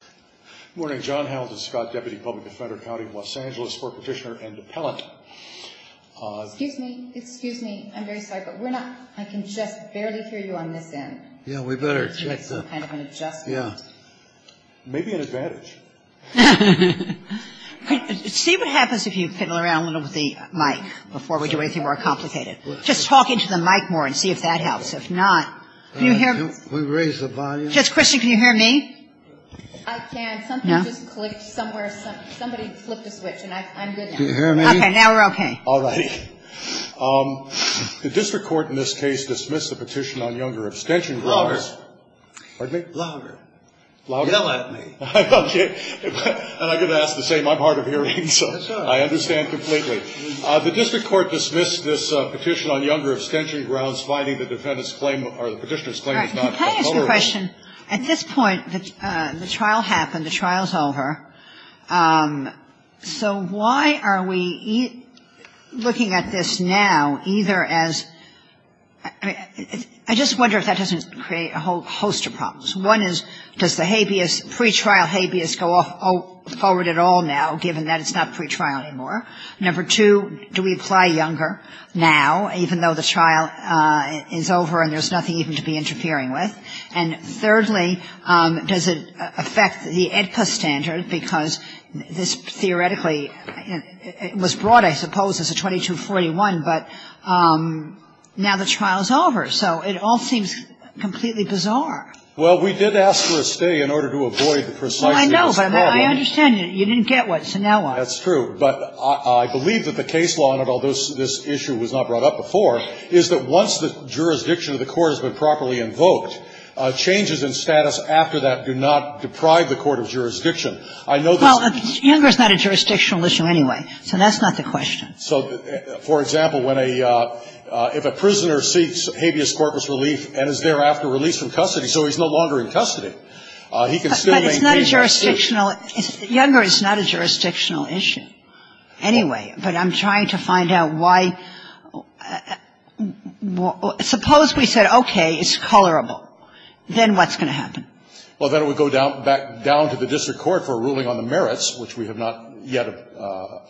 Good morning, John Hamilton Scott, Deputy Public Defender, County of Los Angeles, Sport Petitioner and Appellant. Excuse me, excuse me, I'm very sorry, but we're not, I can just barely hear you on this end. Yeah, we better check the, yeah. Maybe an advantage. See what happens if you fiddle around a little with the mic before we do anything more complicated. Just talk into the mic more and see if that helps. If not, can you hear me? Can you raise the volume? Judge Christian, can you hear me? I can. No. Something just clicked somewhere. Somebody flipped a switch, and I'm good now. Can you hear me? Okay, now we're okay. All right. The district court in this case dismissed the petition on younger abstention grounds. Louder. Pardon me? Louder. Louder? Yell at me. Okay. And I'm going to ask the same. I'm hard of hearing, so I understand completely. The district court dismissed this petition on younger abstention grounds, finding the defendant's claim, or the petitioner's claim, is not covered. All right. Can I ask a question? At this point, the trial happened. The trial's over. So why are we looking at this now either as — I just wonder if that doesn't create a whole host of problems. One is, does the habeas, pretrial habeas go forward at all now, given that it's not pretrial anymore? Number two, do we apply younger now, even though the trial is over and there's nothing even to be interfering with? And thirdly, does it affect the AEDPA standard? Because this theoretically was brought, I suppose, as a 2241, but now the trial's over. So it all seems completely bizarre. Well, we did ask for a stay in order to avoid the preciseness problem. I know, but I understand. You didn't get what's now on. That's true. But I believe that the case law, and although this issue was not brought up before, is that once the jurisdiction of the court has been properly invoked, changes in status after that do not deprive the court of jurisdiction. I know this is — Well, younger is not a jurisdictional issue anyway. So that's not the question. So, for example, when a — if a prisoner seeks habeas corpus relief and is thereafter But it's not a jurisdictional — younger is not a jurisdictional issue anyway. But I'm trying to find out why — suppose we said, okay, it's colorable. Then what's going to happen? Well, then it would go down to the district court for a ruling on the merits, which we have not yet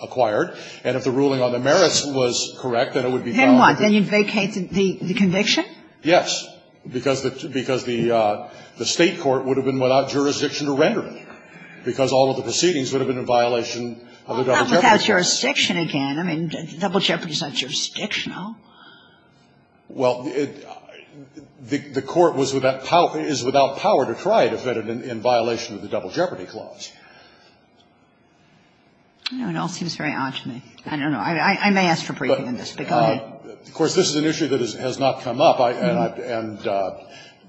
acquired. And if the ruling on the merits was correct, then it would be valid. Then what? Then you'd vacate the conviction? Yes. Because the State court would have been without jurisdiction to render it there because all of the proceedings would have been in violation of the Double Jeopardy. Well, not without jurisdiction again. I mean, Double Jeopardy is not jurisdictional. Well, the court is without power to try to fit it in violation of the Double Jeopardy clause. It all seems very odd to me. I don't know. I may ask for briefing on this, but go ahead. Of course, this is an issue that has not come up. And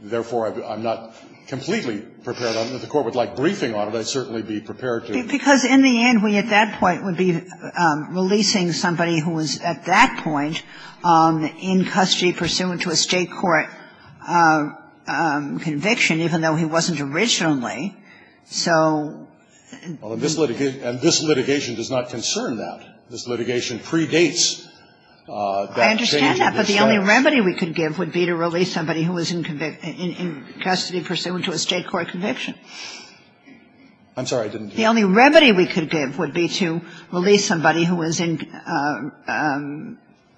therefore, I'm not completely prepared. If the court would like briefing on it, I'd certainly be prepared to. Because in the end, we at that point would be releasing somebody who was at that point in custody pursuant to a State court conviction, even though he wasn't originally. So. And this litigation does not concern that. This litigation predates that change in the statute. The only remedy we could give would be to release somebody who was in custody pursuant to a State court conviction. I'm sorry, I didn't hear you. The only remedy we could give would be to release somebody who was in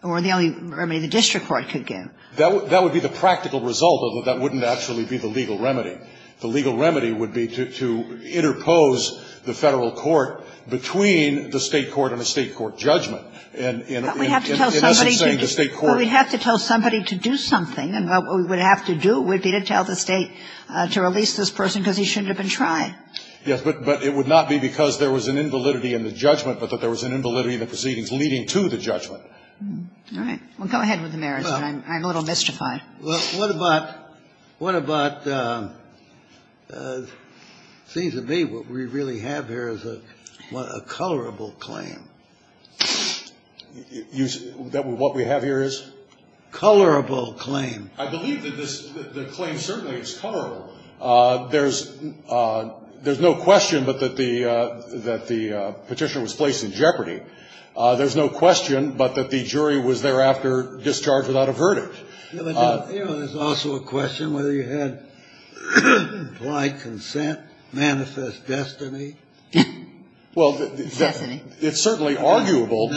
or the only remedy the district court could give. That would be the practical result, although that wouldn't actually be the legal remedy. The legal remedy would be to interpose the Federal court between the State court and a State court judgment. And in essence saying the State court. But we'd have to tell somebody to do something. And what we would have to do would be to tell the State to release this person because he shouldn't have been tried. Yes, but it would not be because there was an invalidity in the judgment, but that there was an invalidity in the proceedings leading to the judgment. All right. Well, go ahead with the merits. I'm a little mystified. Well, what about, what about, it seems to me what we really have here is a colorable claim. What we have here is? Colorable claim. I believe that this claim certainly is colorable. There's no question but that the Petitioner was placed in jeopardy. There's no question but that the jury was thereafter discharged without a verdict. You know, there's also a question whether you had implied consent, manifest destiny. Well, it's certainly arguable.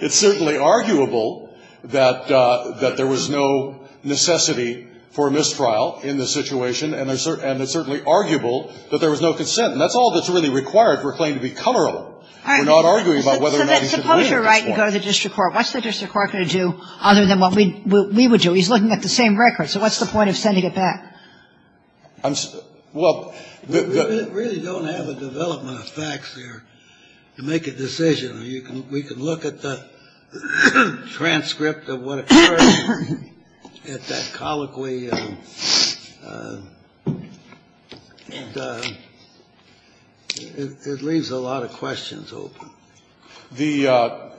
It's certainly arguable that there was no necessity for mistrial in this situation, and it's certainly arguable that there was no consent. And that's all that's really required for a claim to be colorable. We're not arguing about whether or not he should be in at this point. So suppose you're right and go to the district court. What's the district court going to do other than what we would do? He's looking at the same record. So what's the point of sending it back? Well, the ---- We really don't have a development of facts here to make a decision. We can look at the transcript of what occurred at that colloquy, and it leaves a lot of questions open. The ----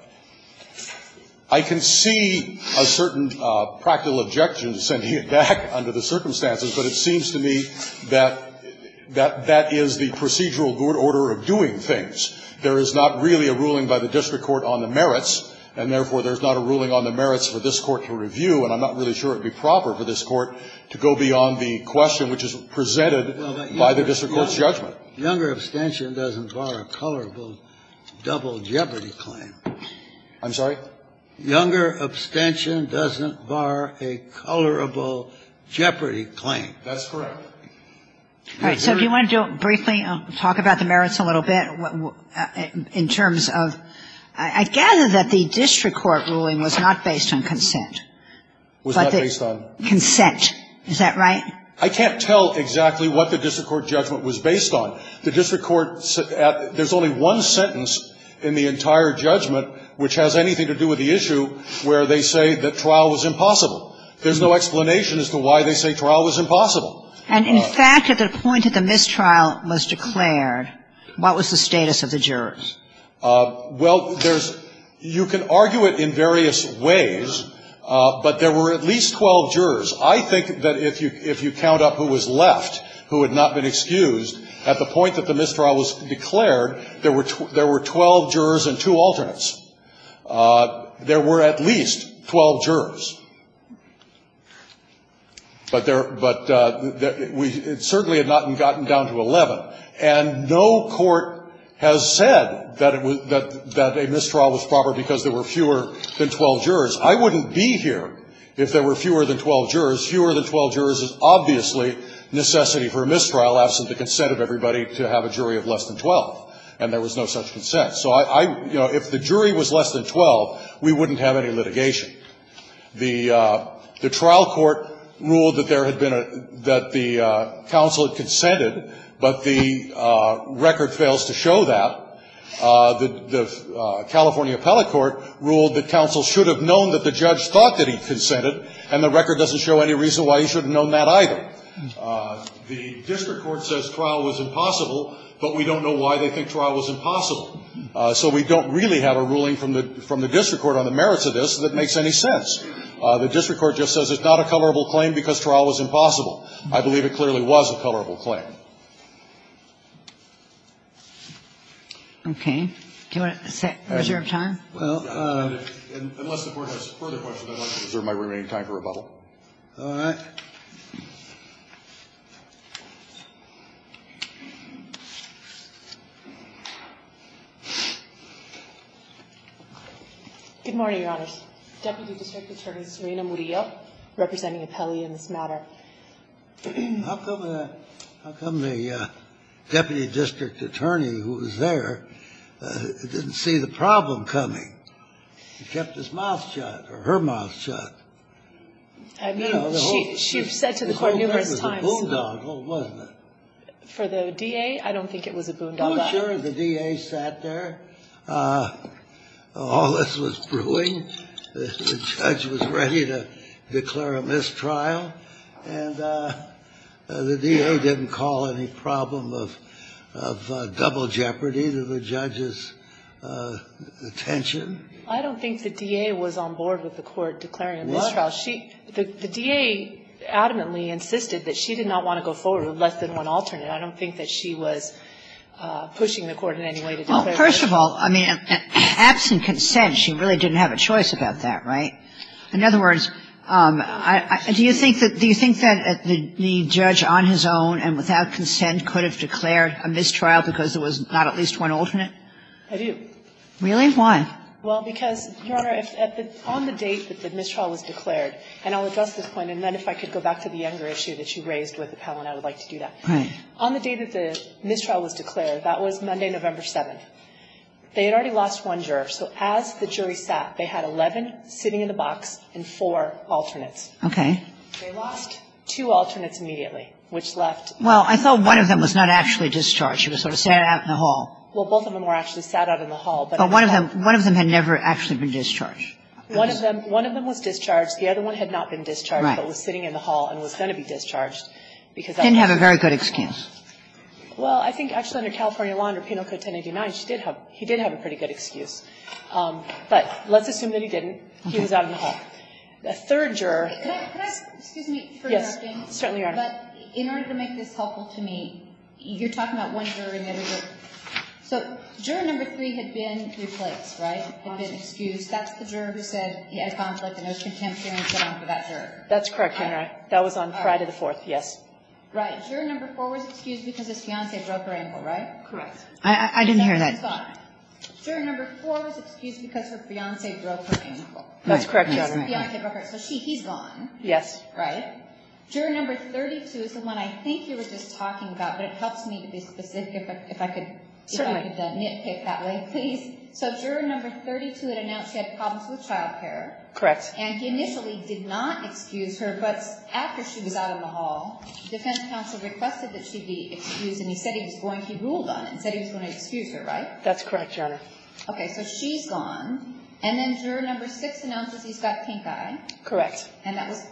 I can see a certain practical objection to sending it back under the circumstances, but it seems to me that that is the procedural good order of doing things. There is not really a ruling by the district court on the merits, and therefore there's not a ruling on the merits for this Court to review, and I'm not really sure it would be proper for this Court to go beyond the question which is presented by the district court's judgment. But younger abstention doesn't bar a colorable double jeopardy claim. I'm sorry? Younger abstention doesn't bar a colorable jeopardy claim. That's correct. All right. So if you want to do it briefly, talk about the merits a little bit in terms of ---- I gather that the district court ruling was not based on consent. Was not based on? Consent. Is that right? I can't tell exactly what the district court judgment was based on. The district court ---- there's only one sentence in the entire judgment which has anything to do with the issue where they say that trial was impossible. There's no explanation as to why they say trial was impossible. And in fact, at the point that the mistrial was declared, what was the status of the jurors? Well, there's ---- you can argue it in various ways, but there were at least 12 jurors. I think that if you count up who was left, who had not been excused, at the point that the mistrial was declared, there were 12 jurors and two alternates. There were at least 12 jurors. But there ---- but we certainly had not gotten down to 11. And no court has said that it was ---- that a mistrial was proper because there were fewer than 12 jurors. I wouldn't be here if there were fewer than 12 jurors. Fewer than 12 jurors is obviously necessity for a mistrial, absent the consent of everybody, to have a jury of less than 12. And there was no such consent. So I ---- you know, if the jury was less than 12, we wouldn't have any litigation. The trial court ruled that there had been a ---- that the counsel had consented, but the record fails to show that. The California appellate court ruled that counsel should have known that the judge thought that he consented, and the record doesn't show any reason why he should have known that either. The district court says trial was impossible, but we don't know why they think trial was impossible. So we don't really have a ruling from the district court on the merits of this that makes any sense. The district court just says it's not a colorable claim because trial was impossible. I believe it clearly was a colorable claim. Okay. Do you want to reserve time? Well, unless the Court has further questions, I'd like to reserve my remaining time for rebuttal. All right. Good morning, Your Honors. Deputy District Attorney Serena Murillo representing Appellia in this matter. How come the Deputy District Attorney who was there didn't see the problem coming? He kept his mouth shut or her mouth shut. I mean, she said to the Court numerous times. It was a boondoggle, wasn't it? For the DA? I don't think it was a boondoggle. I'm sure the DA sat there. All this was brewing. The judge was ready to declare a mistrial. And the DA didn't call any problem of double jeopardy to the judge's attention. I don't think the DA was on board with the Court declaring a mistrial. The DA adamantly insisted that she did not want to go forward with less than one alternate. I don't think that she was pushing the Court in any way to declare a mistrial. Well, first of all, I mean, absent consent, she really didn't have a choice about that, right? In other words, do you think that the judge on his own and without consent could have declared a mistrial because there was not at least one alternate? I do. Really? Why? Well, because, Your Honor, on the date that the mistrial was declared, and I'll address this point, and then if I could go back to the younger issue that you raised with the panel and I would like to do that. Right. On the date that the mistrial was declared, that was Monday, November 7th, they had already lost one juror. So as the jury sat, they had 11 sitting in the box and four alternates. Okay. They lost two alternates immediately, which left. Well, I thought one of them was not actually discharged. She was sort of sat out in the hall. Well, both of them were actually sat out in the hall. But one of them had never actually been discharged. One of them was discharged. The other one had not been discharged but was sitting in the hall and was going to be discharged because of that. Didn't have a very good excuse. Well, I think actually under California law, under Penal Code 1089, she did have a pretty good excuse. But let's assume that he didn't. He was out in the hall. The third juror. Excuse me for interrupting. Yes. Certainly, Your Honor. But in order to make this helpful to me, you're talking about one juror in every juror. So juror number three had been replaced, right? Had been excused. That's the juror who said he had a conflict and there was contempt here and so on for that juror. That's correct, Your Honor. That was on Friday the 4th, yes. Right. Juror number four was excused because his fiance broke her ankle, right? Correct. I didn't hear that. Juror number four was excused because her fiance broke her ankle. That's correct, Your Honor. So she, he's gone. Yes. Right? Juror number 32 is the one I think you were just talking about, but it helps me to be specific if I could. Certainly. If I could nitpick that way, please. So juror number 32 had announced she had problems with child care. Correct. And he initially did not excuse her, but after she was out in the hall, the defense counsel requested that she be excused and he said he was going, he ruled on it and said he was going to excuse her, right? That's correct, Your Honor. Okay. So she's gone. And then juror number six announces he's got pink eye. Correct. And that was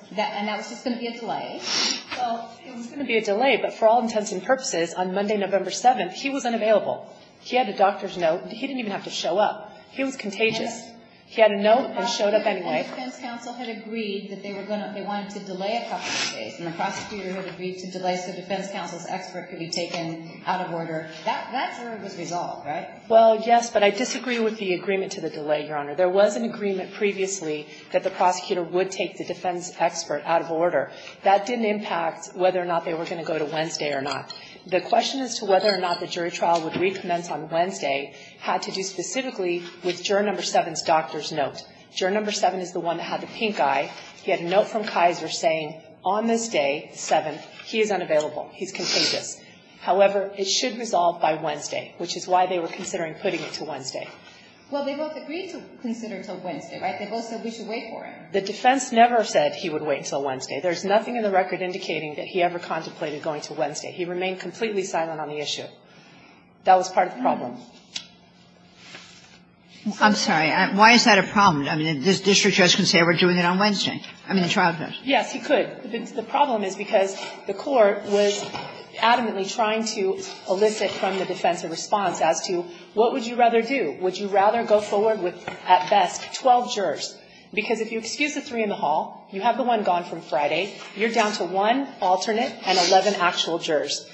just going to be a delay. It was going to be a delay, but for all intents and purposes, on Monday, November 7th, he was unavailable. He had a doctor's note. He didn't even have to show up. He was contagious. He had a note and showed up anyway. The prosecutor and the defense counsel had agreed that they were going to, they wanted to delay a couple of days. And the prosecutor had agreed to delay so defense counsel's expert could be taken out of order. That jury was resolved, right? Well, yes, but I disagree with the agreement to the delay, Your Honor. There was an agreement previously that the prosecutor would take the defense expert out of order. That didn't impact whether or not they were going to go to Wednesday or not. The question as to whether or not the jury trial would recommence on Wednesday had to do specifically with juror number seven's doctor's note. Juror number seven is the one that had the pink eye. He had a note from Kaiser saying on this day, the 7th, he is unavailable. He's contagious. However, it should resolve by Wednesday, which is why they were considering putting it to Wednesday. Well, they both agreed to consider until Wednesday, right? They both said we should wait for him. The defense never said he would wait until Wednesday. There's nothing in the record indicating that he ever contemplated going to Wednesday. He remained completely silent on the issue. That was part of the problem. I'm sorry. Why is that a problem? I mean, this district judge can say we're doing it on Wednesday. I mean, the trial judge. Yes, he could. The problem is because the Court was adamantly trying to elicit from the defense a response as to what would you rather do. Would you rather go forward with, at best, 12 jurors? Because if you excuse the three in the hall, you have the one gone from Friday. You're down to one alternate and 11 actual jurors.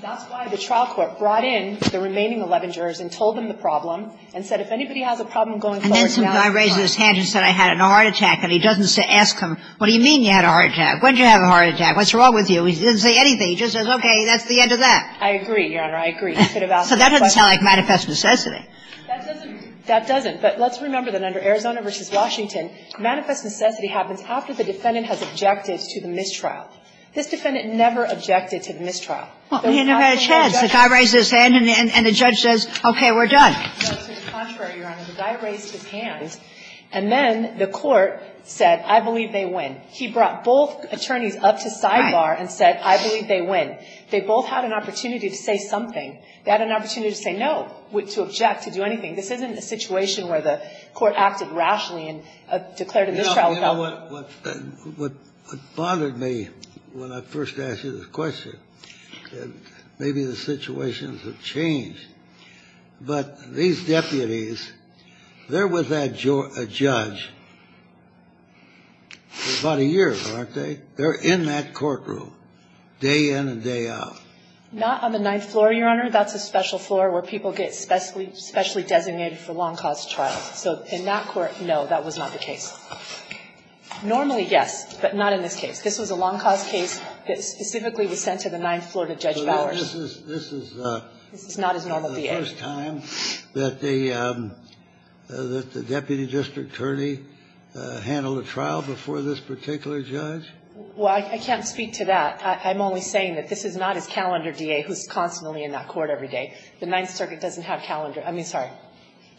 That's why the trial court brought in the remaining 11 jurors and told them the problem and said if anybody has a problem going forward, now is the time. And then some guy raised his hand and said I had a heart attack. And he doesn't ask him, what do you mean you had a heart attack? When did you have a heart attack? What's wrong with you? He didn't say anything. He just says, okay, that's the end of that. I agree, Your Honor. I agree. He could have asked that question. So that doesn't sound like manifest necessity. That doesn't. But let's remember that under Arizona v. Washington, manifest necessity happens after the defendant has objected to the mistrial. This defendant never objected to the mistrial. Well, he never had a chance. The guy raised his hand and the judge says, okay, we're done. No, to the contrary, Your Honor. The guy raised his hand, and then the court said, I believe they win. He brought both attorneys up to sidebar and said, I believe they win. They both had an opportunity to say something. They had an opportunity to say no, to object, to do anything. This isn't a situation where the court acted rashly and declared a mistrial. You know, what bothered me when I first asked you this question, maybe the situations have changed. But these deputies, they're with that judge for about a year, aren't they? They're in that courtroom day in and day out. Not on the ninth floor, Your Honor. That's a special floor where people get specially designated for long cause trials. So in that court, no, that was not the case. Normally, yes, but not in this case. This was a long cause case that specifically was sent to the ninth floor to Judge Bowers. So this is the first time that the deputy district attorney handled a trial before this particular judge? Well, I can't speak to that. I'm only saying that this is not his calendar DA who's constantly in that court every day. The Ninth Circuit doesn't have calendar DAs. I mean, sorry,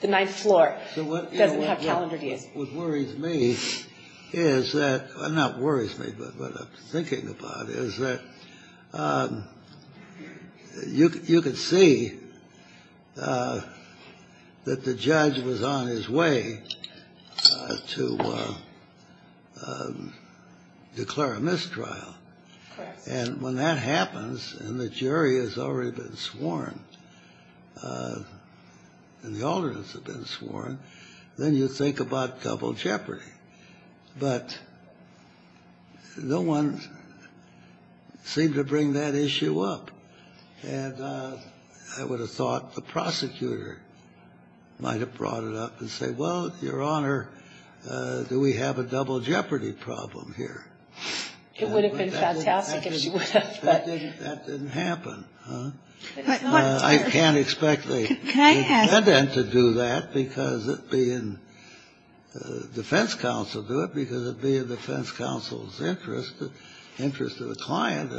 the ninth floor doesn't have calendar DAs. What worries me is that, well, not worries me, but what I'm thinking about is that you could see that the judge was on his way to declare a mistrial. And when that happens and the jury has already been sworn and the alternates have been sworn, then you think about double jeopardy. But no one seemed to bring that issue up. And I would have thought the prosecutor might have brought it up and said, well, Your Honor, do we have a double jeopardy problem here? It would have been fantastic if she would have. That didn't happen. I can't expect the defendant to do that. Because it would be in defense counsel's interest, the interest of the client,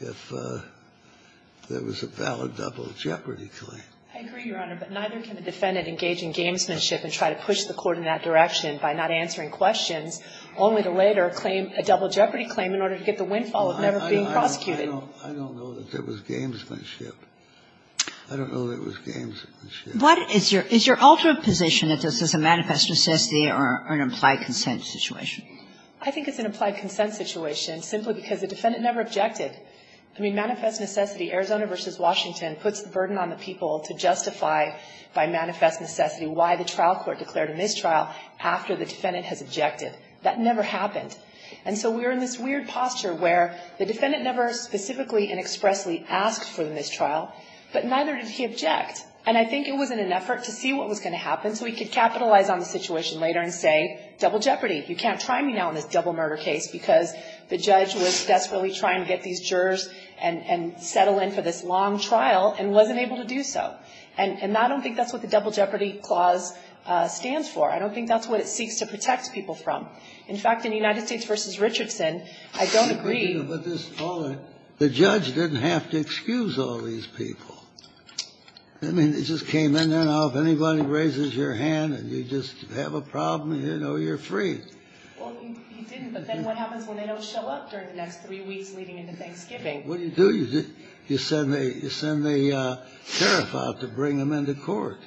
if there was a valid double jeopardy claim. I agree, Your Honor, but neither can a defendant engage in gamesmanship and try to push the court in that direction by not answering questions, only to later claim a double jeopardy claim in order to get the windfall of never being prosecuted. I don't know that there was gamesmanship. I don't know there was gamesmanship. But is your ultimate position that this is a manifest necessity or an implied consent situation? I think it's an implied consent situation simply because the defendant never objected. I mean, manifest necessity, Arizona v. Washington, puts the burden on the people to justify by manifest necessity why the trial court declared a mistrial after the defendant has objected. That never happened. And so we're in this weird posture where the defendant never specifically and expressly asked for the mistrial, but neither did he object. And I think it was in an effort to see what was going to happen so he could capitalize on the situation later and say, double jeopardy, you can't try me now in this double murder case because the judge was desperately trying to get these jurors and settle in for this long trial and wasn't able to do so. And I don't think that's what the double jeopardy clause stands for. I don't think that's what it seeks to protect people from. In fact, in United States v. Richardson, I don't agree. The judge didn't have to excuse all these people. I mean, it just came in there now. If anybody raises your hand and you just have a problem, you know, you're free. Well, he didn't, but then what happens when they don't show up during the next three weeks leading into Thanksgiving? What do you do? You send the tariff out to bring them into court.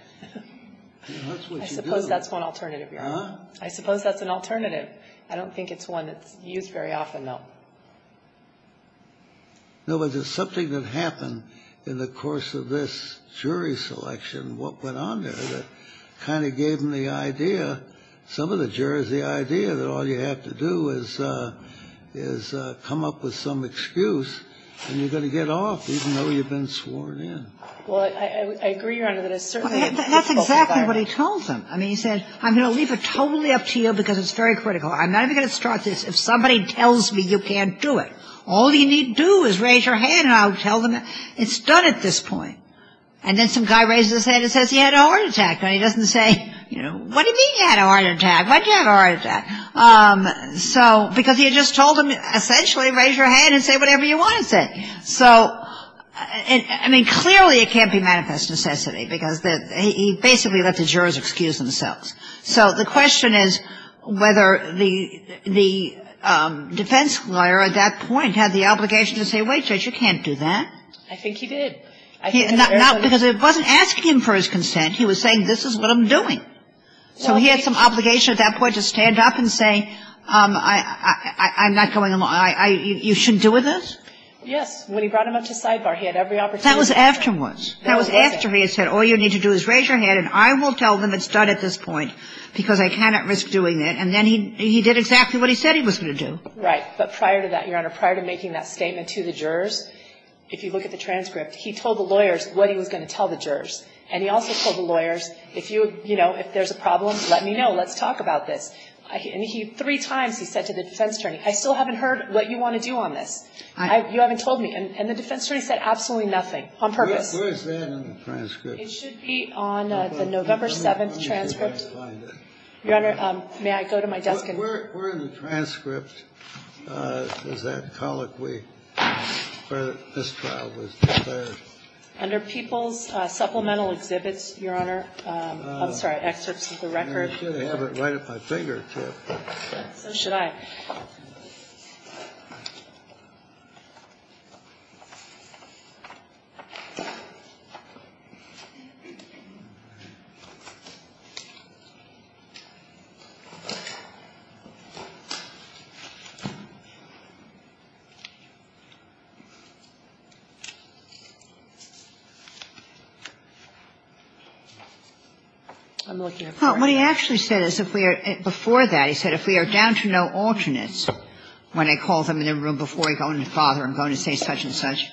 That's what you do. I suppose that's one alternative, Your Honor. I suppose that's an alternative. I don't think it's one that's used very often, though. No, but there's something that happened in the course of this jury selection, what went on there, that kind of gave them the idea, some of the jurors the idea that all you have to do is come up with some excuse and you're going to get off, even though you've been sworn in. Well, I agree, Your Honor, that it's certainly a difficult environment. That's exactly what he told them. I mean, he said, I'm going to leave it totally up to you because it's very critical. I'm not even going to start this. If somebody tells me you can't do it, all you need to do is raise your hand and I'll tell them it's done at this point. And then some guy raises his hand and says he had a heart attack. And he doesn't say, you know, what do you mean you had a heart attack? Why did you have a heart attack? Because he had just told them essentially raise your hand and say whatever you want to say. So, I mean, clearly it can't be manifest necessity because he basically let the jurors excuse themselves. So the question is whether the defense lawyer at that point had the obligation to say, wait, Judge, you can't do that. I think he did. Not because it wasn't asking him for his consent. He was saying this is what I'm doing. So he had some obligation at that point to stand up and say, I'm not going to, you shouldn't do this? Yes. When he brought him up to sidebar, he had every opportunity. That was afterwards. That was after he had said all you need to do is raise your hand and I will tell them it's done at this point because I cannot risk doing it. And then he did exactly what he said he was going to do. Right. But prior to that, Your Honor, prior to making that statement to the jurors, if you look at the transcript, he told the lawyers what he was going to tell the jurors. And he also told the lawyers, if you, you know, if there's a problem, let me know. Let's talk about this. And three times he said to the defense attorney, I still haven't heard what you want to do on this. You haven't told me. And the defense attorney said absolutely nothing on purpose. Where is that in the transcript? It should be on the November 7th transcript. Your Honor, may I go to my desk? Where in the transcript is that colloquy where this trial was declared? Under People's Supplemental Exhibits, Your Honor. I'm sorry. Excerpts of the record. I should have it right at my fingertip. So should I. I'm looking at the record. And what he actually said is if we are, before that, he said, if we are down to no alternates, when I call them in a room before I go in to bother them, going to say such and such,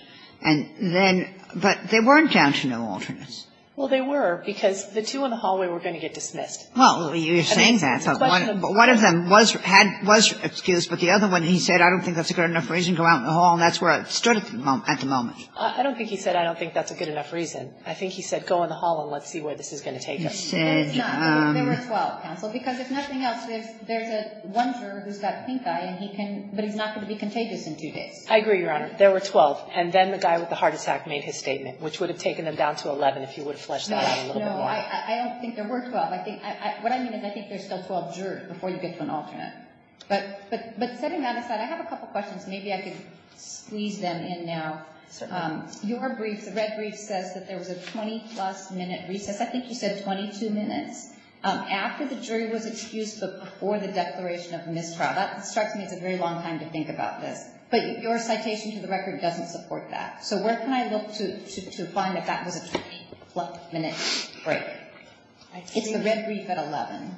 and then, but they weren't down to no alternates. Well, they were, because the two in the hallway were going to get dismissed. Well, you're saying that, but one of them was, had, was excused, but the other one, he said, I don't think that's a good enough reason to go out in the hall, and that's where it stood at the moment. I don't think he said, I don't think that's a good enough reason. I think he said, go in the hall and let's see where this is going to take us. He said. No, there were 12, counsel, because if nothing else, there's one juror who's got pink eye, and he can, but he's not going to be contagious in two days. I agree, Your Honor. There were 12. And then the guy with the heart attack made his statement, which would have taken them down to 11 if you would have flushed that out a little bit more. No, I don't think there were 12. I think, what I mean is I think there's still 12 jurors before you get to an alternate. But setting that aside, I have a couple questions. Maybe I could squeeze them in now. Certainly. Your brief, the red brief, says that there was a 20-plus minute recess. I think you said 22 minutes. After the jury was excused but before the declaration of mistrial. That strikes me as a very long time to think about this. But your citation to the record doesn't support that. So where can I look to find that that was a 20-plus minute break? It's the red brief at 11.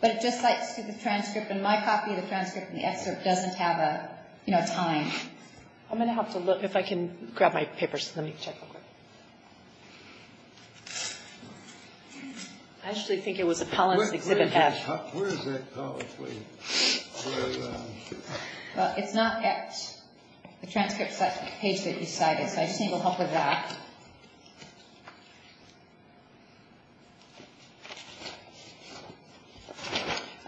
But it just cites to the transcript, and my copy of the transcript and the excerpt doesn't have a time. I'm going to have to look. If I can grab my papers. Let me check real quick. I actually think it was Apollon's Exhibit F. Where is that? Well, it's not at the transcript page that you cited. So I just need a little help with that.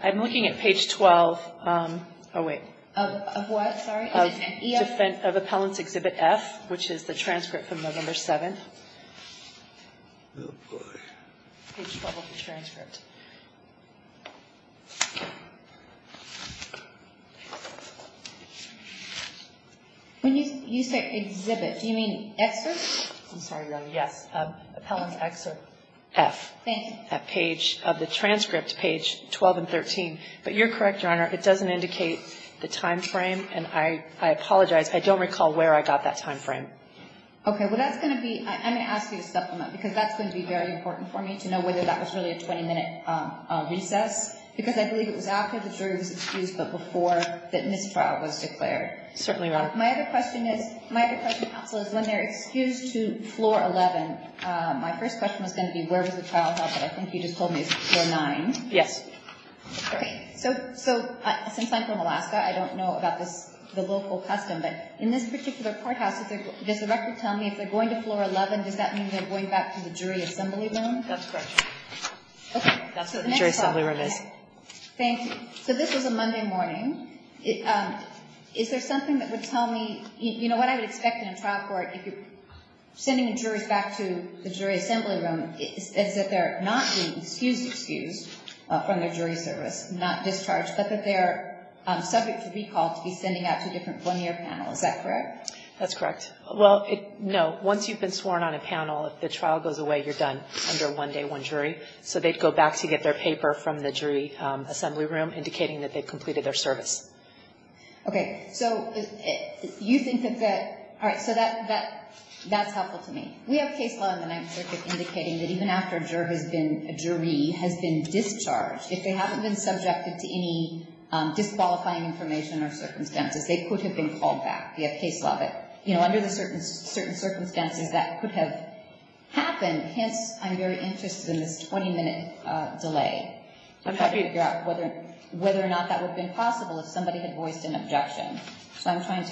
I'm looking at page 12. Oh, wait. Of what? Of Apollon's Exhibit F, which is the transcript from November 7th. Page 12 of the transcript. When you say exhibit, do you mean excerpt? I'm sorry, Your Honor. Yes. Apollon's Excerpt F. Thank you. At page of the transcript, page 12 and 13. But you're correct, Your Honor. It doesn't indicate the time frame, and I apologize. I don't recall where I got that time frame. Okay. Well, that's going to be ‑‑ I'm going to ask you a supplement, because that's going to be very important for me, to know whether that was really a 20‑minute recess, because I believe it was after the jury was excused but before the mistrial was declared. Certainly, Your Honor. My other question, counsel, is when they're excused to Floor 11, my first question was going to be where was the trial held, but I think you just told me it was Floor 9. Yes. Okay. So since I'm from Alaska, I don't know about the local custom, but in this particular courthouse, does the record tell me if they're going to Floor 11, does that mean they're going back to the jury assembly room? That's correct. Okay. That's what the jury assembly room is. Thank you. So this was a Monday morning. Is there something that would tell me ‑‑ you know, what I would expect in a trial court, if you're sending juries back to the jury assembly room, is that they're not being excused from their jury service, not discharged, but that they are subject to recall to be sending out to a different one‑year panel. Is that correct? That's correct. Well, no. Once you've been sworn on a panel, if the trial goes away, you're done under one day, one jury. So they'd go back to get their paper from the jury assembly room, indicating that they completed their service. Okay. So you think that that ‑‑ all right, so that's helpful to me. We have case law in the Ninth Circuit indicating that even after a jury has been discharged, if they haven't been subjected to any disqualifying information or circumstances, they could have been called back. We have case law that, you know, under the certain circumstances, that could have happened. Hence, I'm very interested in this 20‑minute delay. I'm happy to figure out whether or not that would have been possible if somebody had voiced an objection. So I'm trying to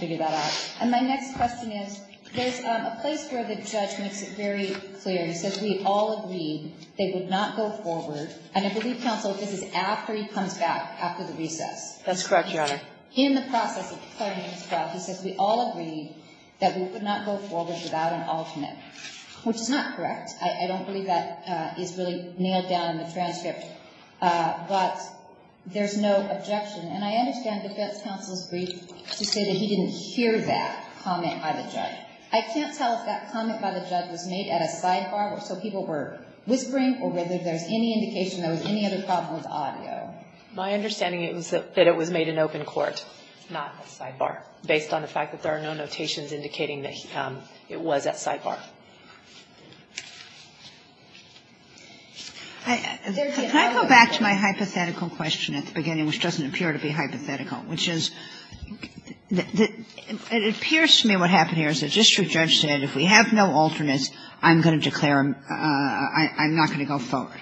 figure that out. And my next question is, there's a place where the judge makes it very clear. He says, we all agreed they would not go forward. And I believe, counsel, this is after he comes back, after the recess. That's correct, Your Honor. In the process of planning his trial, he says, we all agreed that we would not go forward without an alternate, which is not correct. I don't believe that is really nailed down in the transcript. But there's no objection. And I understand defense counsel's brief to say that he didn't hear that comment by the judge. I can't tell if that comment by the judge was made at a sidebar, or so people were whispering, or whether there's any indication there was any other problem with audio. My understanding is that it was made in open court, not a sidebar, based on the fact that there are no notations indicating that it was at sidebar. Can I go back to my hypothetical question at the beginning, which doesn't appear to be hypothetical, which is, it appears to me what happened here is the district judge said, if we have no alternates, I'm going to declare I'm not going to go forward.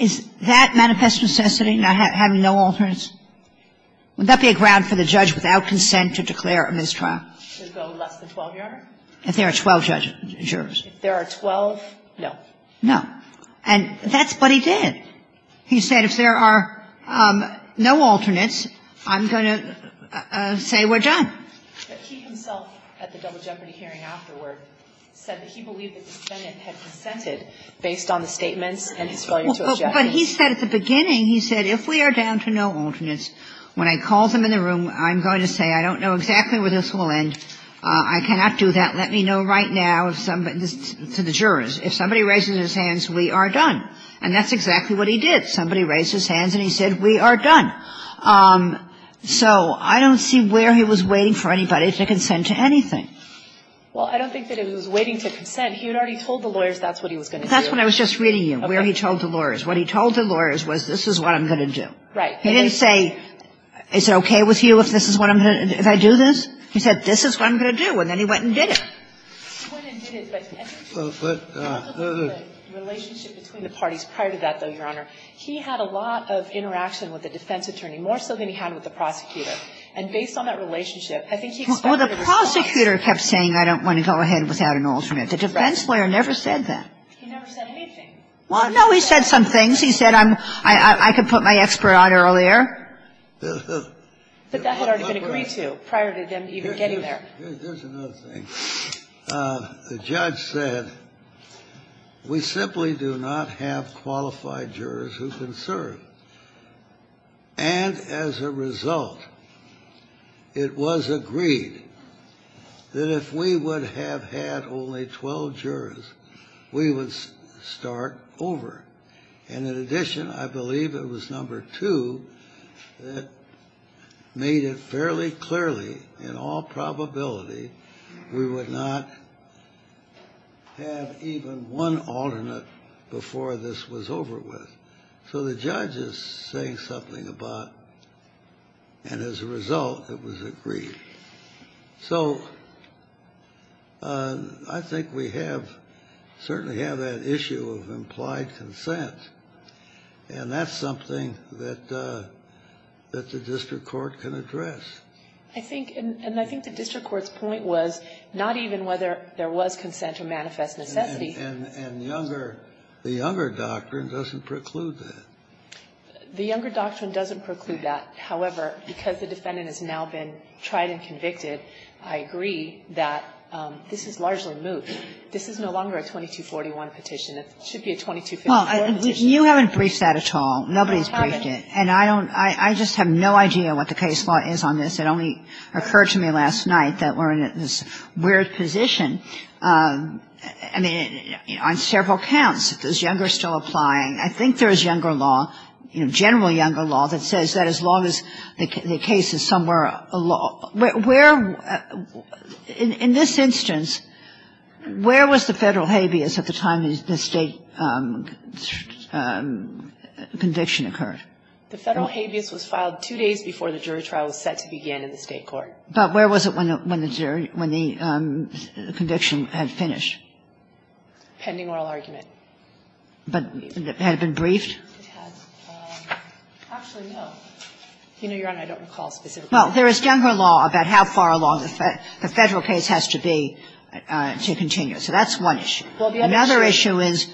Is that manifest necessity, having no alternates? Would that be a ground for the judge without consent to declare a mistrial? To go less than 12 yards? If there are 12 jurors. If there are 12? No. No. And that's what he did. He said, if there are no alternates, I'm going to say we're done. But he himself, at the double jeopardy hearing afterward, said that he believed that the defendant had consented based on the statements and his failure to object. But he said at the beginning, he said, if we are down to no alternates, when I call them in the room, I'm going to say I don't know exactly where this will end. I cannot do that. Let me know right now to the jurors. If somebody raises his hands, we are done. And that's exactly what he did. Somebody raised his hands and he said, we are done. So I don't see where he was waiting for anybody to consent to anything. Well, I don't think that he was waiting to consent. He had already told the lawyers that's what he was going to do. That's what I was just reading you, where he told the lawyers. What he told the lawyers was, this is what I'm going to do. Right. He didn't say, is it okay with you if this is what I'm going to do? If I do this? He said, this is what I'm going to do. And then he went and did it. He went and did it. But the relationship between the parties prior to that, though, Your Honor, he had a lot of interaction with the defense attorney, more so than he had with the prosecutor. And based on that relationship, I think he expected a response. Well, the prosecutor kept saying, I don't want to go ahead without an alternate. The defense lawyer never said that. He never said anything. Well, no, he said some things. He said, I could put my expert on earlier. But that had already been agreed to prior to them even getting there. Here's another thing. The judge said, we simply do not have qualified jurors who can serve. And as a result, it was agreed that if we would have had only 12 jurors, we would start over. And in addition, I believe it was number two that made it fairly clearly, in all probability, we would not have even one alternate before this was over with. So the judge is saying something about, and as a result, it was agreed. So I think we have, certainly have that issue of implied consent. And that's something that the district court can address. I think, and I think the district court's point was not even whether there was consent or manifest necessity. And younger, the younger doctrine doesn't preclude that. The younger doctrine doesn't preclude that. However, because the defendant has now been tried and convicted, I agree that this is largely moot. This is no longer a 2241 petition. It should be a 2254 petition. Kagan. You haven't briefed that at all. Nobody's briefed it. And I don't, I just have no idea what the case law is on this. It only occurred to me last night that we're in this weird position. I mean, on several counts, is younger still applying? I think there is younger law, you know, general younger law that says that as long as the case is somewhere along, where, in this instance, where was the Federal habeas at the time the State conviction occurred? The Federal habeas was filed two days before the jury trial was set to begin in the State court. But where was it when the jury, when the conviction had finished? Pending oral argument. But had it been briefed? It had. Actually, no. You know, Your Honor, I don't recall specifically. Well, there is younger law about how far along the Federal case has to be to continue. So that's one issue. Well, the other issue is,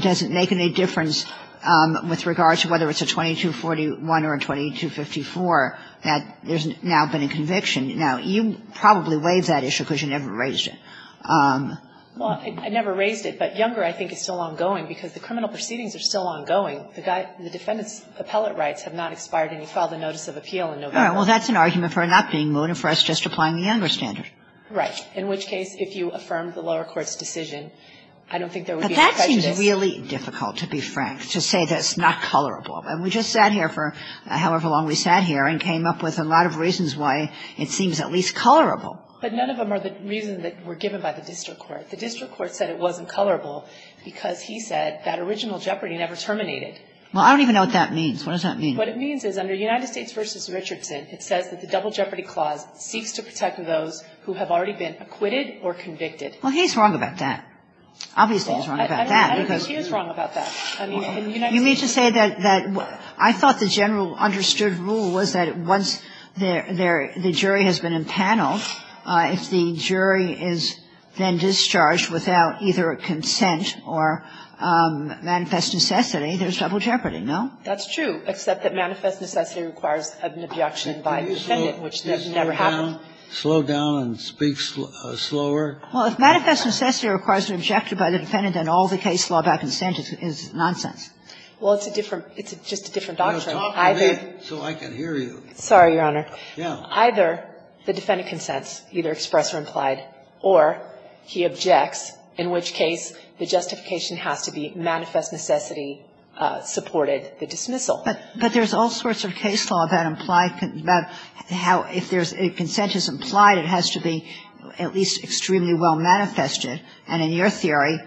does it make any difference with regard to whether it's a 2241 or a 2254 that there's now been a conviction? Now, you probably waived that issue because you never raised it. Well, I never raised it. But younger, I think, is still ongoing because the criminal proceedings are still ongoing. The defendant's appellate rights have not expired any further notice of appeal in November. All right. Well, that's an argument for not being moot and for us just applying the younger standard. Right. In which case, if you affirm the lower court's decision, I don't think there would be any prejudice. But that seems really difficult, to be frank, to say that it's not colorable. And we just sat here for however long we sat here and came up with a lot of reasons why it seems at least colorable. But none of them are the reasons that were given by the district court. The district court said it wasn't colorable because he said that original Jeopardy never terminated. Well, I don't even know what that means. What does that mean? What it means is under United States v. Richardson, it says that the double Jeopardy clause seeks to protect those who have already been acquitted or convicted. Well, he's wrong about that. Obviously, he's wrong about that. I don't think he is wrong about that. I mean, in United States. You mean to say that I thought the general understood rule was that once the jury has been impaneled, if the jury is then discharged without either a consent or manifest necessity, there's double Jeopardy, no? That's true, except that manifest necessity requires an objection by the defendant, which never happened. Slow down and speak slower. Well, if manifest necessity requires an objection by the defendant, then all the case law about consent is nonsense. Well, it's a different – it's just a different doctrine. Talk to me so I can hear you. Sorry, Your Honor. Either the defendant consents, either express or implied, or he objects, in which case the justification has to be manifest necessity supported the dismissal. But there's all sorts of case law about implied – about how if there's – if consent is implied, it has to be at least extremely well manifested. And in your theory,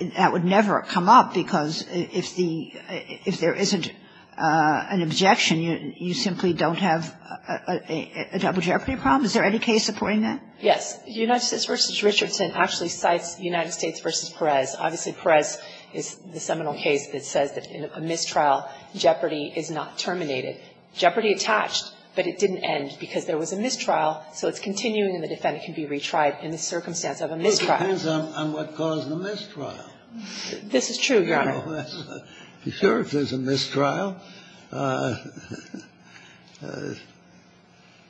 that would never come up, because if the – if there isn't an objection, you simply don't have a double Jeopardy problem? Is there any case supporting that? Yes. United States v. Richardson actually cites United States v. Perez. Obviously, Perez is the seminal case that says that in a mistrial, Jeopardy is not terminated. Jeopardy attached, but it didn't end because there was a mistrial, so it's continuing and the defendant can be retried in the circumstance of a mistrial. It depends on what caused the mistrial. This is true, Your Honor. Sure, if there's a mistrial,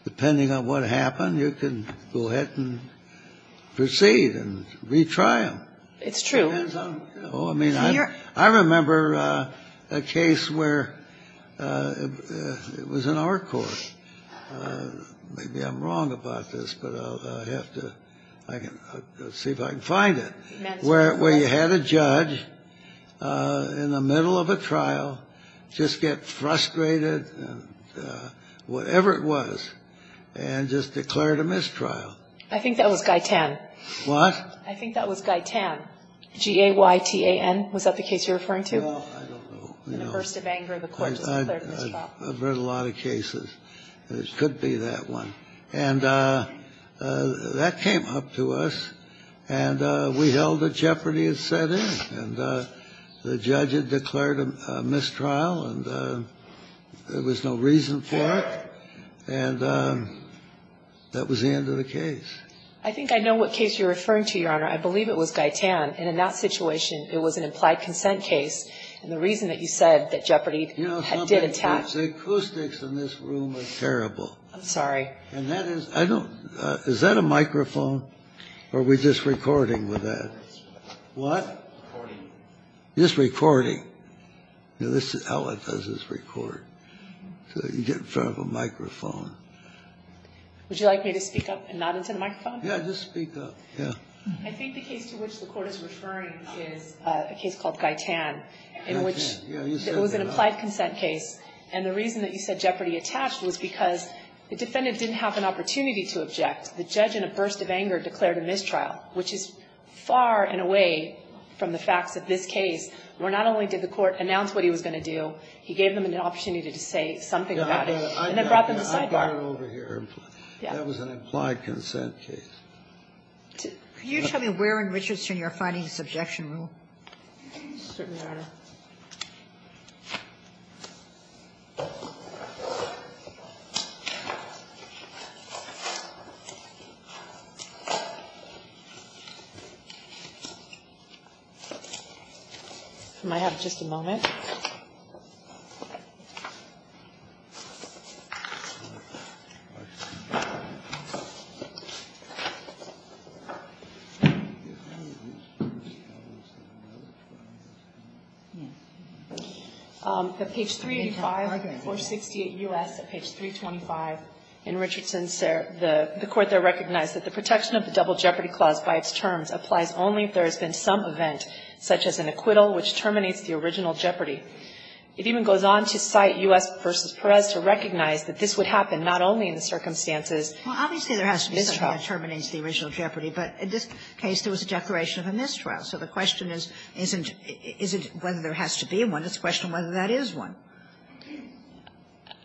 depending on what happened, you can go ahead and proceed and retry them. It's true. Oh, I mean, I remember a case where it was in our court. Maybe I'm wrong about this, but I'll have to – I'll see if I can find it, where you had a judge in the middle of a trial just get frustrated and whatever it was and just declared a mistrial. I think that was Guy Tan. What? I think that was Guy Tan, G-A-Y-T-A-N. Was that the case you're referring to? No, I don't know. In a burst of anger, the court just declared a mistrial. I've read a lot of cases. It could be that one. And that came up to us, and we held a jeopardy at setting, and the judge had declared a mistrial, and there was no reason for it. And that was the end of the case. I think I know what case you're referring to, Your Honor. I believe it was Guy Tan. And in that situation, it was an implied consent case. And the reason that you said that jeopardy did attack – You know something? The acoustics in this room are terrible. And that is – I don't – is that a microphone? Or are we just recording with that? What? Recording. Just recording. This is how it does its record. So you get in front of a microphone. Would you like me to speak up and not into the microphone? Yeah, just speak up. Yeah. I think the case to which the court is referring is a case called Guy Tan, in which it was an implied consent case. And the reason that you said jeopardy attached was because the defendant didn't have an opportunity to object. The judge, in a burst of anger, declared a mistrial, which is far and away from the facts of this case, where not only did the court announce what he was going to do, he gave them an opportunity to say something about it. And that brought them to the sidebar. I've got it over here. That was an implied consent case. Can you tell me where in Richardson you're finding this objection rule? Certainly, Your Honor. I might have just a moment. The page 385, 468 U.S., page 325 in Richardson, the court there recognized that the protection of the double jeopardy clause by its terms applies only if there has been some event, such as an acquittal, which terminates the original jeopardy. It even goes on to cite U.S. v. Perez to recognize that this would happen not only in the circumstances of a mistrial. Well, obviously there has to be something that terminates the original jeopardy. But in this case there was a declaration of a mistrial. So the question isn't whether there has to be one. It's a question of whether that is one.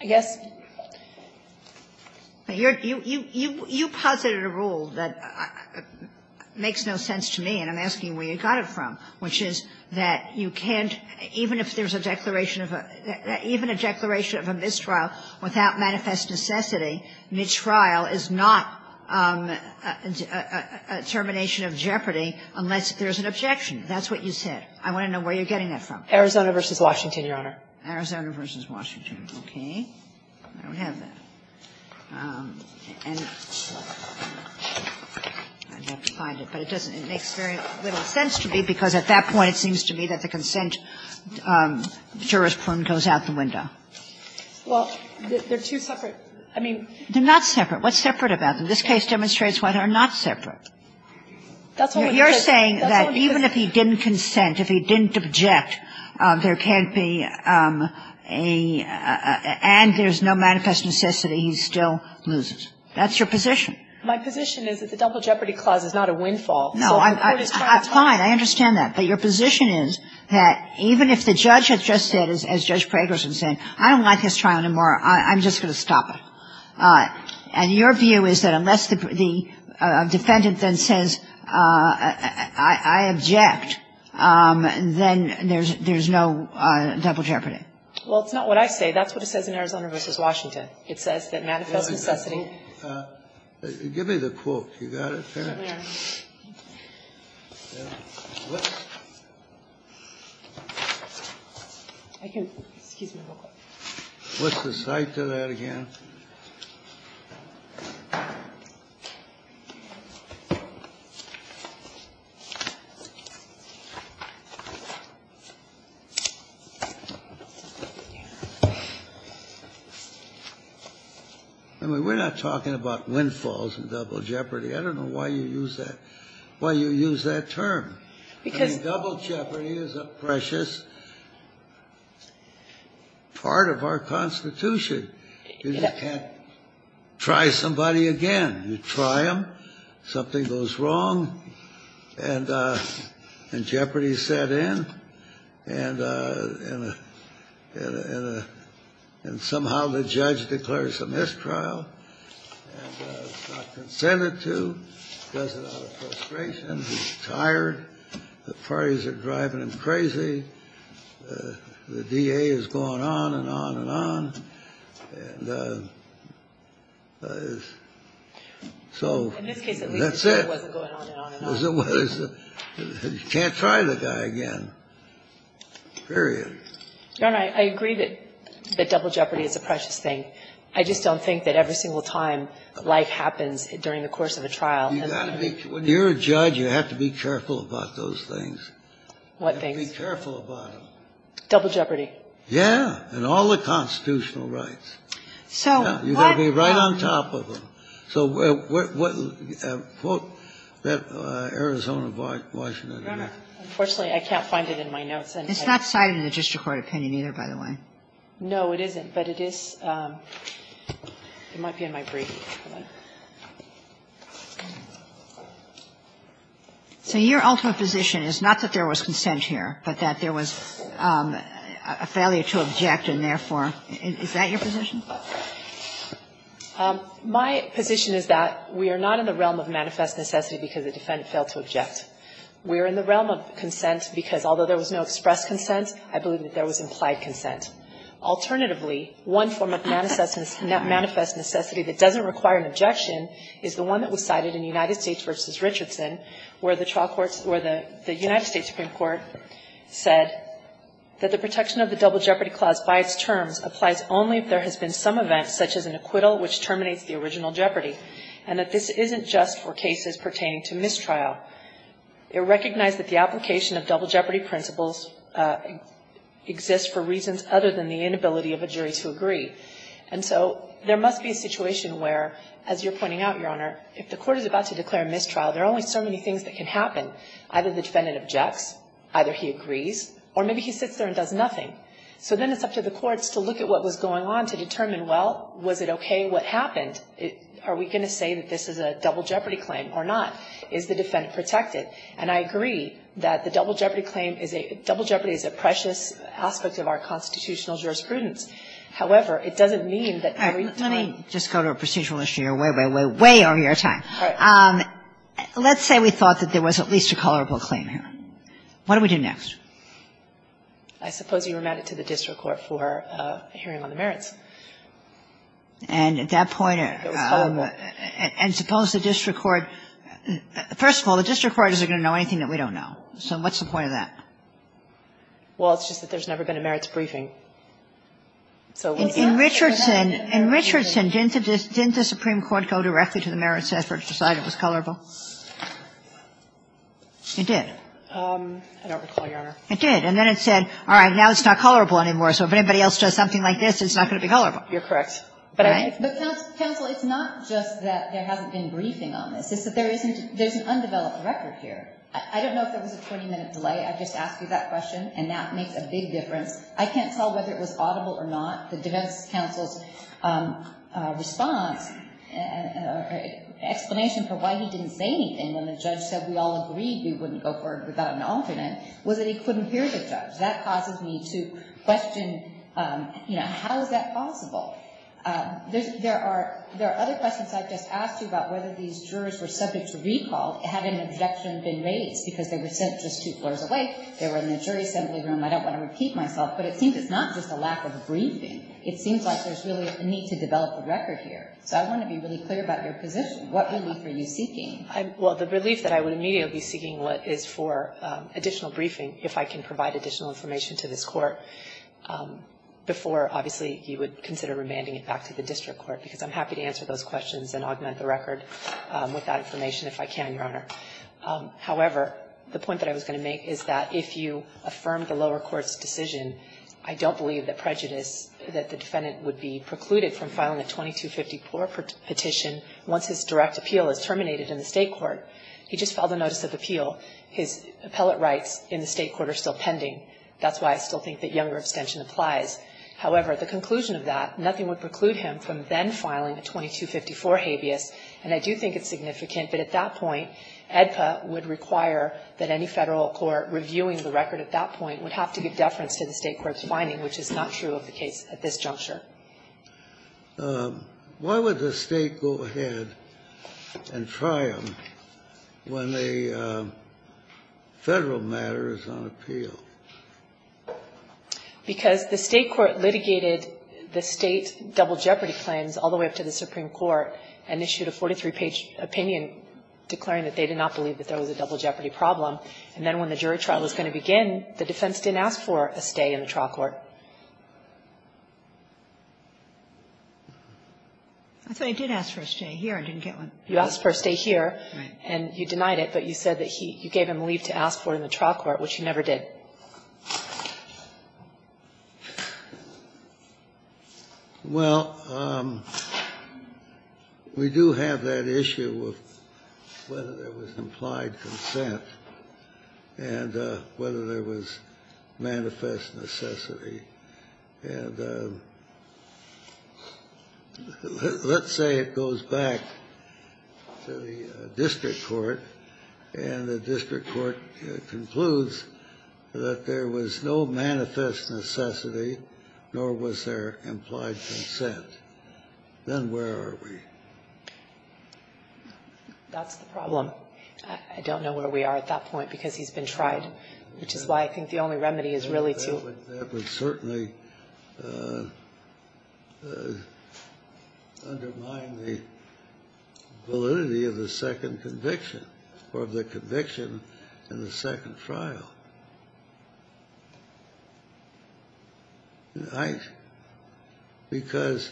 I guess. You posited a rule that makes no sense to me, and I'm asking where you got it from, which is that you can't, even if there's a declaration of a mistrial without manifest necessity, a mistrial is not a termination of jeopardy unless there's an objection. That's what you said. I want to know where you're getting that from. Arizona v. Washington, Your Honor. Arizona v. Washington. Okay. I don't have that. And I'd have to find it, but it doesn't. It makes very little sense to me, because at that point it seems to me that the consent jurisprudence goes out the window. Well, they're two separate. I mean. They're not separate. What's separate about them? This case demonstrates what are not separate. You're saying that even if he didn't consent, if he didn't object, there can't be a, and there's no manifest necessity, he still loses. That's your position. My position is that the Double Jeopardy Clause is not a windfall. No, I'm fine. I understand that. But your position is that even if the judge had just said, as Judge Pragerson said, I don't like this trial anymore. I'm just going to stop it. And your view is that unless the defendant then says, I object, then there's no double jeopardy. Well, it's not what I say. That's what it says in Arizona v. Washington. It says that manifest necessity. Give me the quote. You got it? I can. Excuse me real quick. What's the site to that again? I mean, we're not talking about windfalls and double jeopardy. I don't know why you use that, why you use that term. I mean, double jeopardy is a precious part of our Constitution. You just can't try somebody again. You try them, something goes wrong, and jeopardy set in, and somehow the judge declares a mistrial and is not consented to, does it out of frustration, is tired, the parties are driving him crazy, the DA is going on and on and on, and so that's it. In this case, at least the trial wasn't going on and on and on. You can't try the guy again, period. Your Honor, I agree that double jeopardy is a precious thing. I just don't think that every single time life happens during the course of a trial. When you're a judge, you have to be careful about those things. What things? You have to be careful about them. Double jeopardy. Yeah. And all the constitutional rights. So what? You got to be right on top of them. So what quote that Arizona, Washington? Your Honor, unfortunately, I can't find it in my notes. It's not cited in the district court opinion either, by the way. No, it isn't, but it is. It might be in my brief. So your ultimate position is not that there was consent here, but that there was a failure to object, and therefore, is that your position? My position is that we are not in the realm of manifest necessity because the defendant failed to object. We are in the realm of consent because although there was no express consent, I believe that there was implied consent. Alternatively, one form of manifest necessity that doesn't require an objection is the one that was cited in United States v. Richardson, where the trial courts or the United States Supreme Court said that the protection of the double jeopardy clause by its terms applies only if there has been some event such as an acquittal which terminates the original jeopardy, and that this isn't just for cases pertaining to mistrial. It recognized that the application of double jeopardy principles exists for reasons other than the inability of a jury to agree, and so there must be a situation where, as you're pointing out, Your Honor, if the court is about to declare a mistrial, there are only so many things that can happen. Either the defendant objects, either he agrees, or maybe he sits there and does nothing. So then it's up to the courts to look at what was going on to determine, well, was it okay what happened? Are we going to say that this is a double jeopardy claim or not? Is the defendant protected? And I agree that the double jeopardy claim is a — double jeopardy is a precious aspect of our constitutional jurisprudence. However, it doesn't mean that every time — Kagan. Let me just go to a procedural issue. You're way, way, way, way over your time. All right. Let's say we thought that there was at least a tolerable claim here. What do we do next? I suppose you remand it to the district court for a hearing on the merits. And at that point — It was tolerable. And suppose the district court — first of all, the district court isn't going to know anything that we don't know. So what's the point of that? Well, it's just that there's never been a merits briefing. So what's the point? In Richardson, didn't the Supreme Court go directly to the merits effort to decide it was tolerable? It did. I don't recall, Your Honor. It did. And then it said, all right, now it's not tolerable anymore, so if anybody else does something like this, it's not going to be tolerable. You're correct. But I — But, counsel, it's not just that there hasn't been briefing on this. It's that there isn't — there's an undeveloped record here. I don't know if there was a 20-minute delay. I just asked you that question, and that makes a big difference. I can't tell whether it was audible or not. The defense counsel's response, explanation for why he didn't say anything when the judge said, we all agreed we wouldn't go for it without an alternate, was that he couldn't hear the judge. That causes me to question, you know, how is that possible? There are other questions I've just asked you about whether these jurors were subject to recall, had an objection been raised, because they were sent just two floors away, they were in the jury assembly room. I don't want to repeat myself. But it seems it's not just a lack of briefing. It seems like there's really a need to develop a record here. So I want to be really clear about your position. What relief are you seeking? Well, the relief that I would immediately be seeking is for additional briefing, if I can provide additional information to this Court, before, obviously, you would consider remanding it back to the district court. Because I'm happy to answer those questions and augment the record with that information if I can, Your Honor. However, the point that I was going to make is that if you affirm the lower court's decision, I don't believe that prejudice, that the defendant would be precluded from filing a 2254 petition once his direct appeal is terminated in the State court. He just filed a notice of appeal. His appellate rights in the State court are still pending. That's why I still think that younger abstention applies. However, the conclusion of that, nothing would preclude him from then filing a 2254 habeas, and I do think it's significant. But at that point, AEDPA would require that any Federal court reviewing the record at that point would have to give deference to the State court's finding, which is not true of the case at this juncture. Why would the State go ahead and try him when the Federal matter is on appeal? Because the State court litigated the State double jeopardy claims all the way up to the Supreme Court and issued a 43-page opinion declaring that they did not believe that there was a double jeopardy problem. And then when the jury trial was going to begin, the defense didn't ask for a stay in the trial court. I thought he did ask for a stay here. I didn't get one. You asked for a stay here. Right. And you denied it, but you said that he you gave him leave to ask for in the trial court, which you never did. Well, we do have that issue of whether there was implied consent and whether there was manifest necessity. And let's say it goes back to the district court, and the district court concludes that there was no manifest necessity, nor was there implied consent. Then where are we? That's the problem. I don't know where we are at that point because he's been tried, which is why I think the only remedy is really to ---- That would certainly undermine the validity of the second conviction or of the conviction in the second trial. Because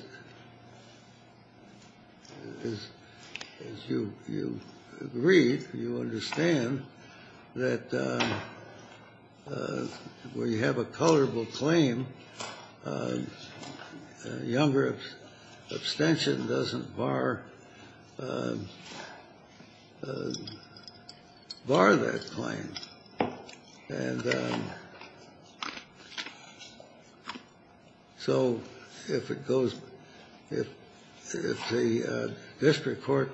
as you read, you understand that where you have a colorable claim, younger abstention doesn't bar that claim. And so if it goes ---- if the district court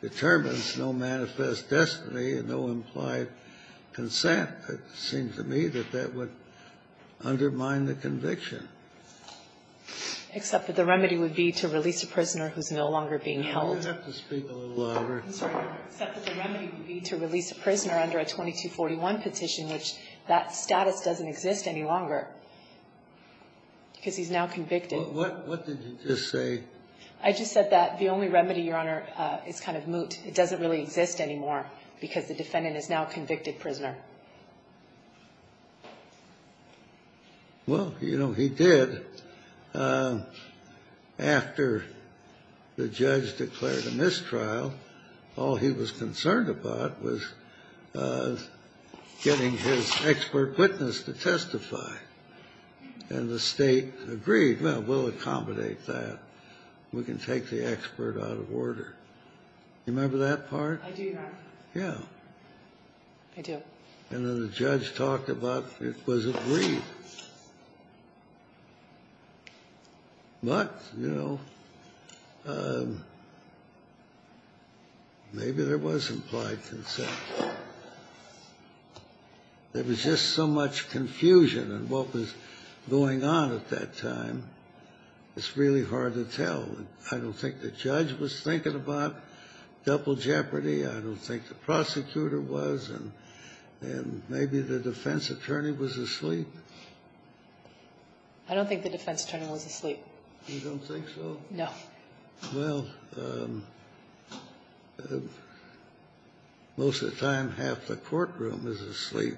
determines no manifest destiny and no implied consent, it seems to me that that would undermine the conviction. Except that the remedy would be to release a prisoner who's no longer being held. You have to speak a little louder. I'm sorry. Except that the remedy would be to release a prisoner under a 2241 petition, which that status doesn't exist any longer because he's now convicted. Well, what did you just say? I just said that the only remedy, Your Honor, is kind of moot. It doesn't really exist anymore because the defendant is now a convicted prisoner. Well, you know, he did. After the judge declared a mistrial, all he was concerned about was getting his expert witness to testify. And the State agreed, well, we'll accommodate that. We can take the expert out of order. You remember that part? I do, Your Honor. Yeah. I do. And then the judge talked about it was agreed. But, you know, maybe there was implied consent. There was just so much confusion in what was going on at that time. It's really hard to tell. I don't think the judge was thinking about double jeopardy. I don't think the prosecutor was. And maybe the defense attorney was asleep. I don't think the defense attorney was asleep. You don't think so? No. Well, most of the time, half the courtroom is asleep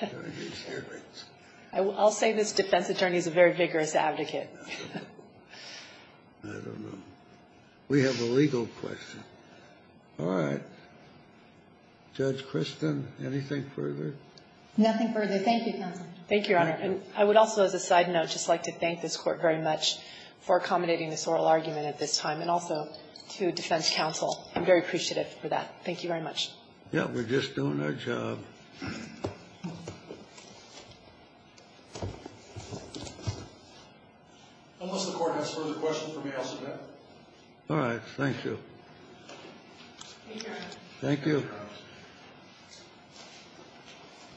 during these hearings. I'll say this defense attorney is a very vigorous advocate. I don't know. We have a legal question. All right. Judge Kristen, anything further? Nothing further. Thank you, Counsel. Thank you, Your Honor. And I would also, as a side note, just like to thank this Court very much for accommodating this oral argument at this time, and also to defense counsel. I'm very appreciative for that. Thank you very much. Yeah. We're just doing our job. Unless the Court has further questions, we may ask them now. All right. Thank you. Thank you. Thank you.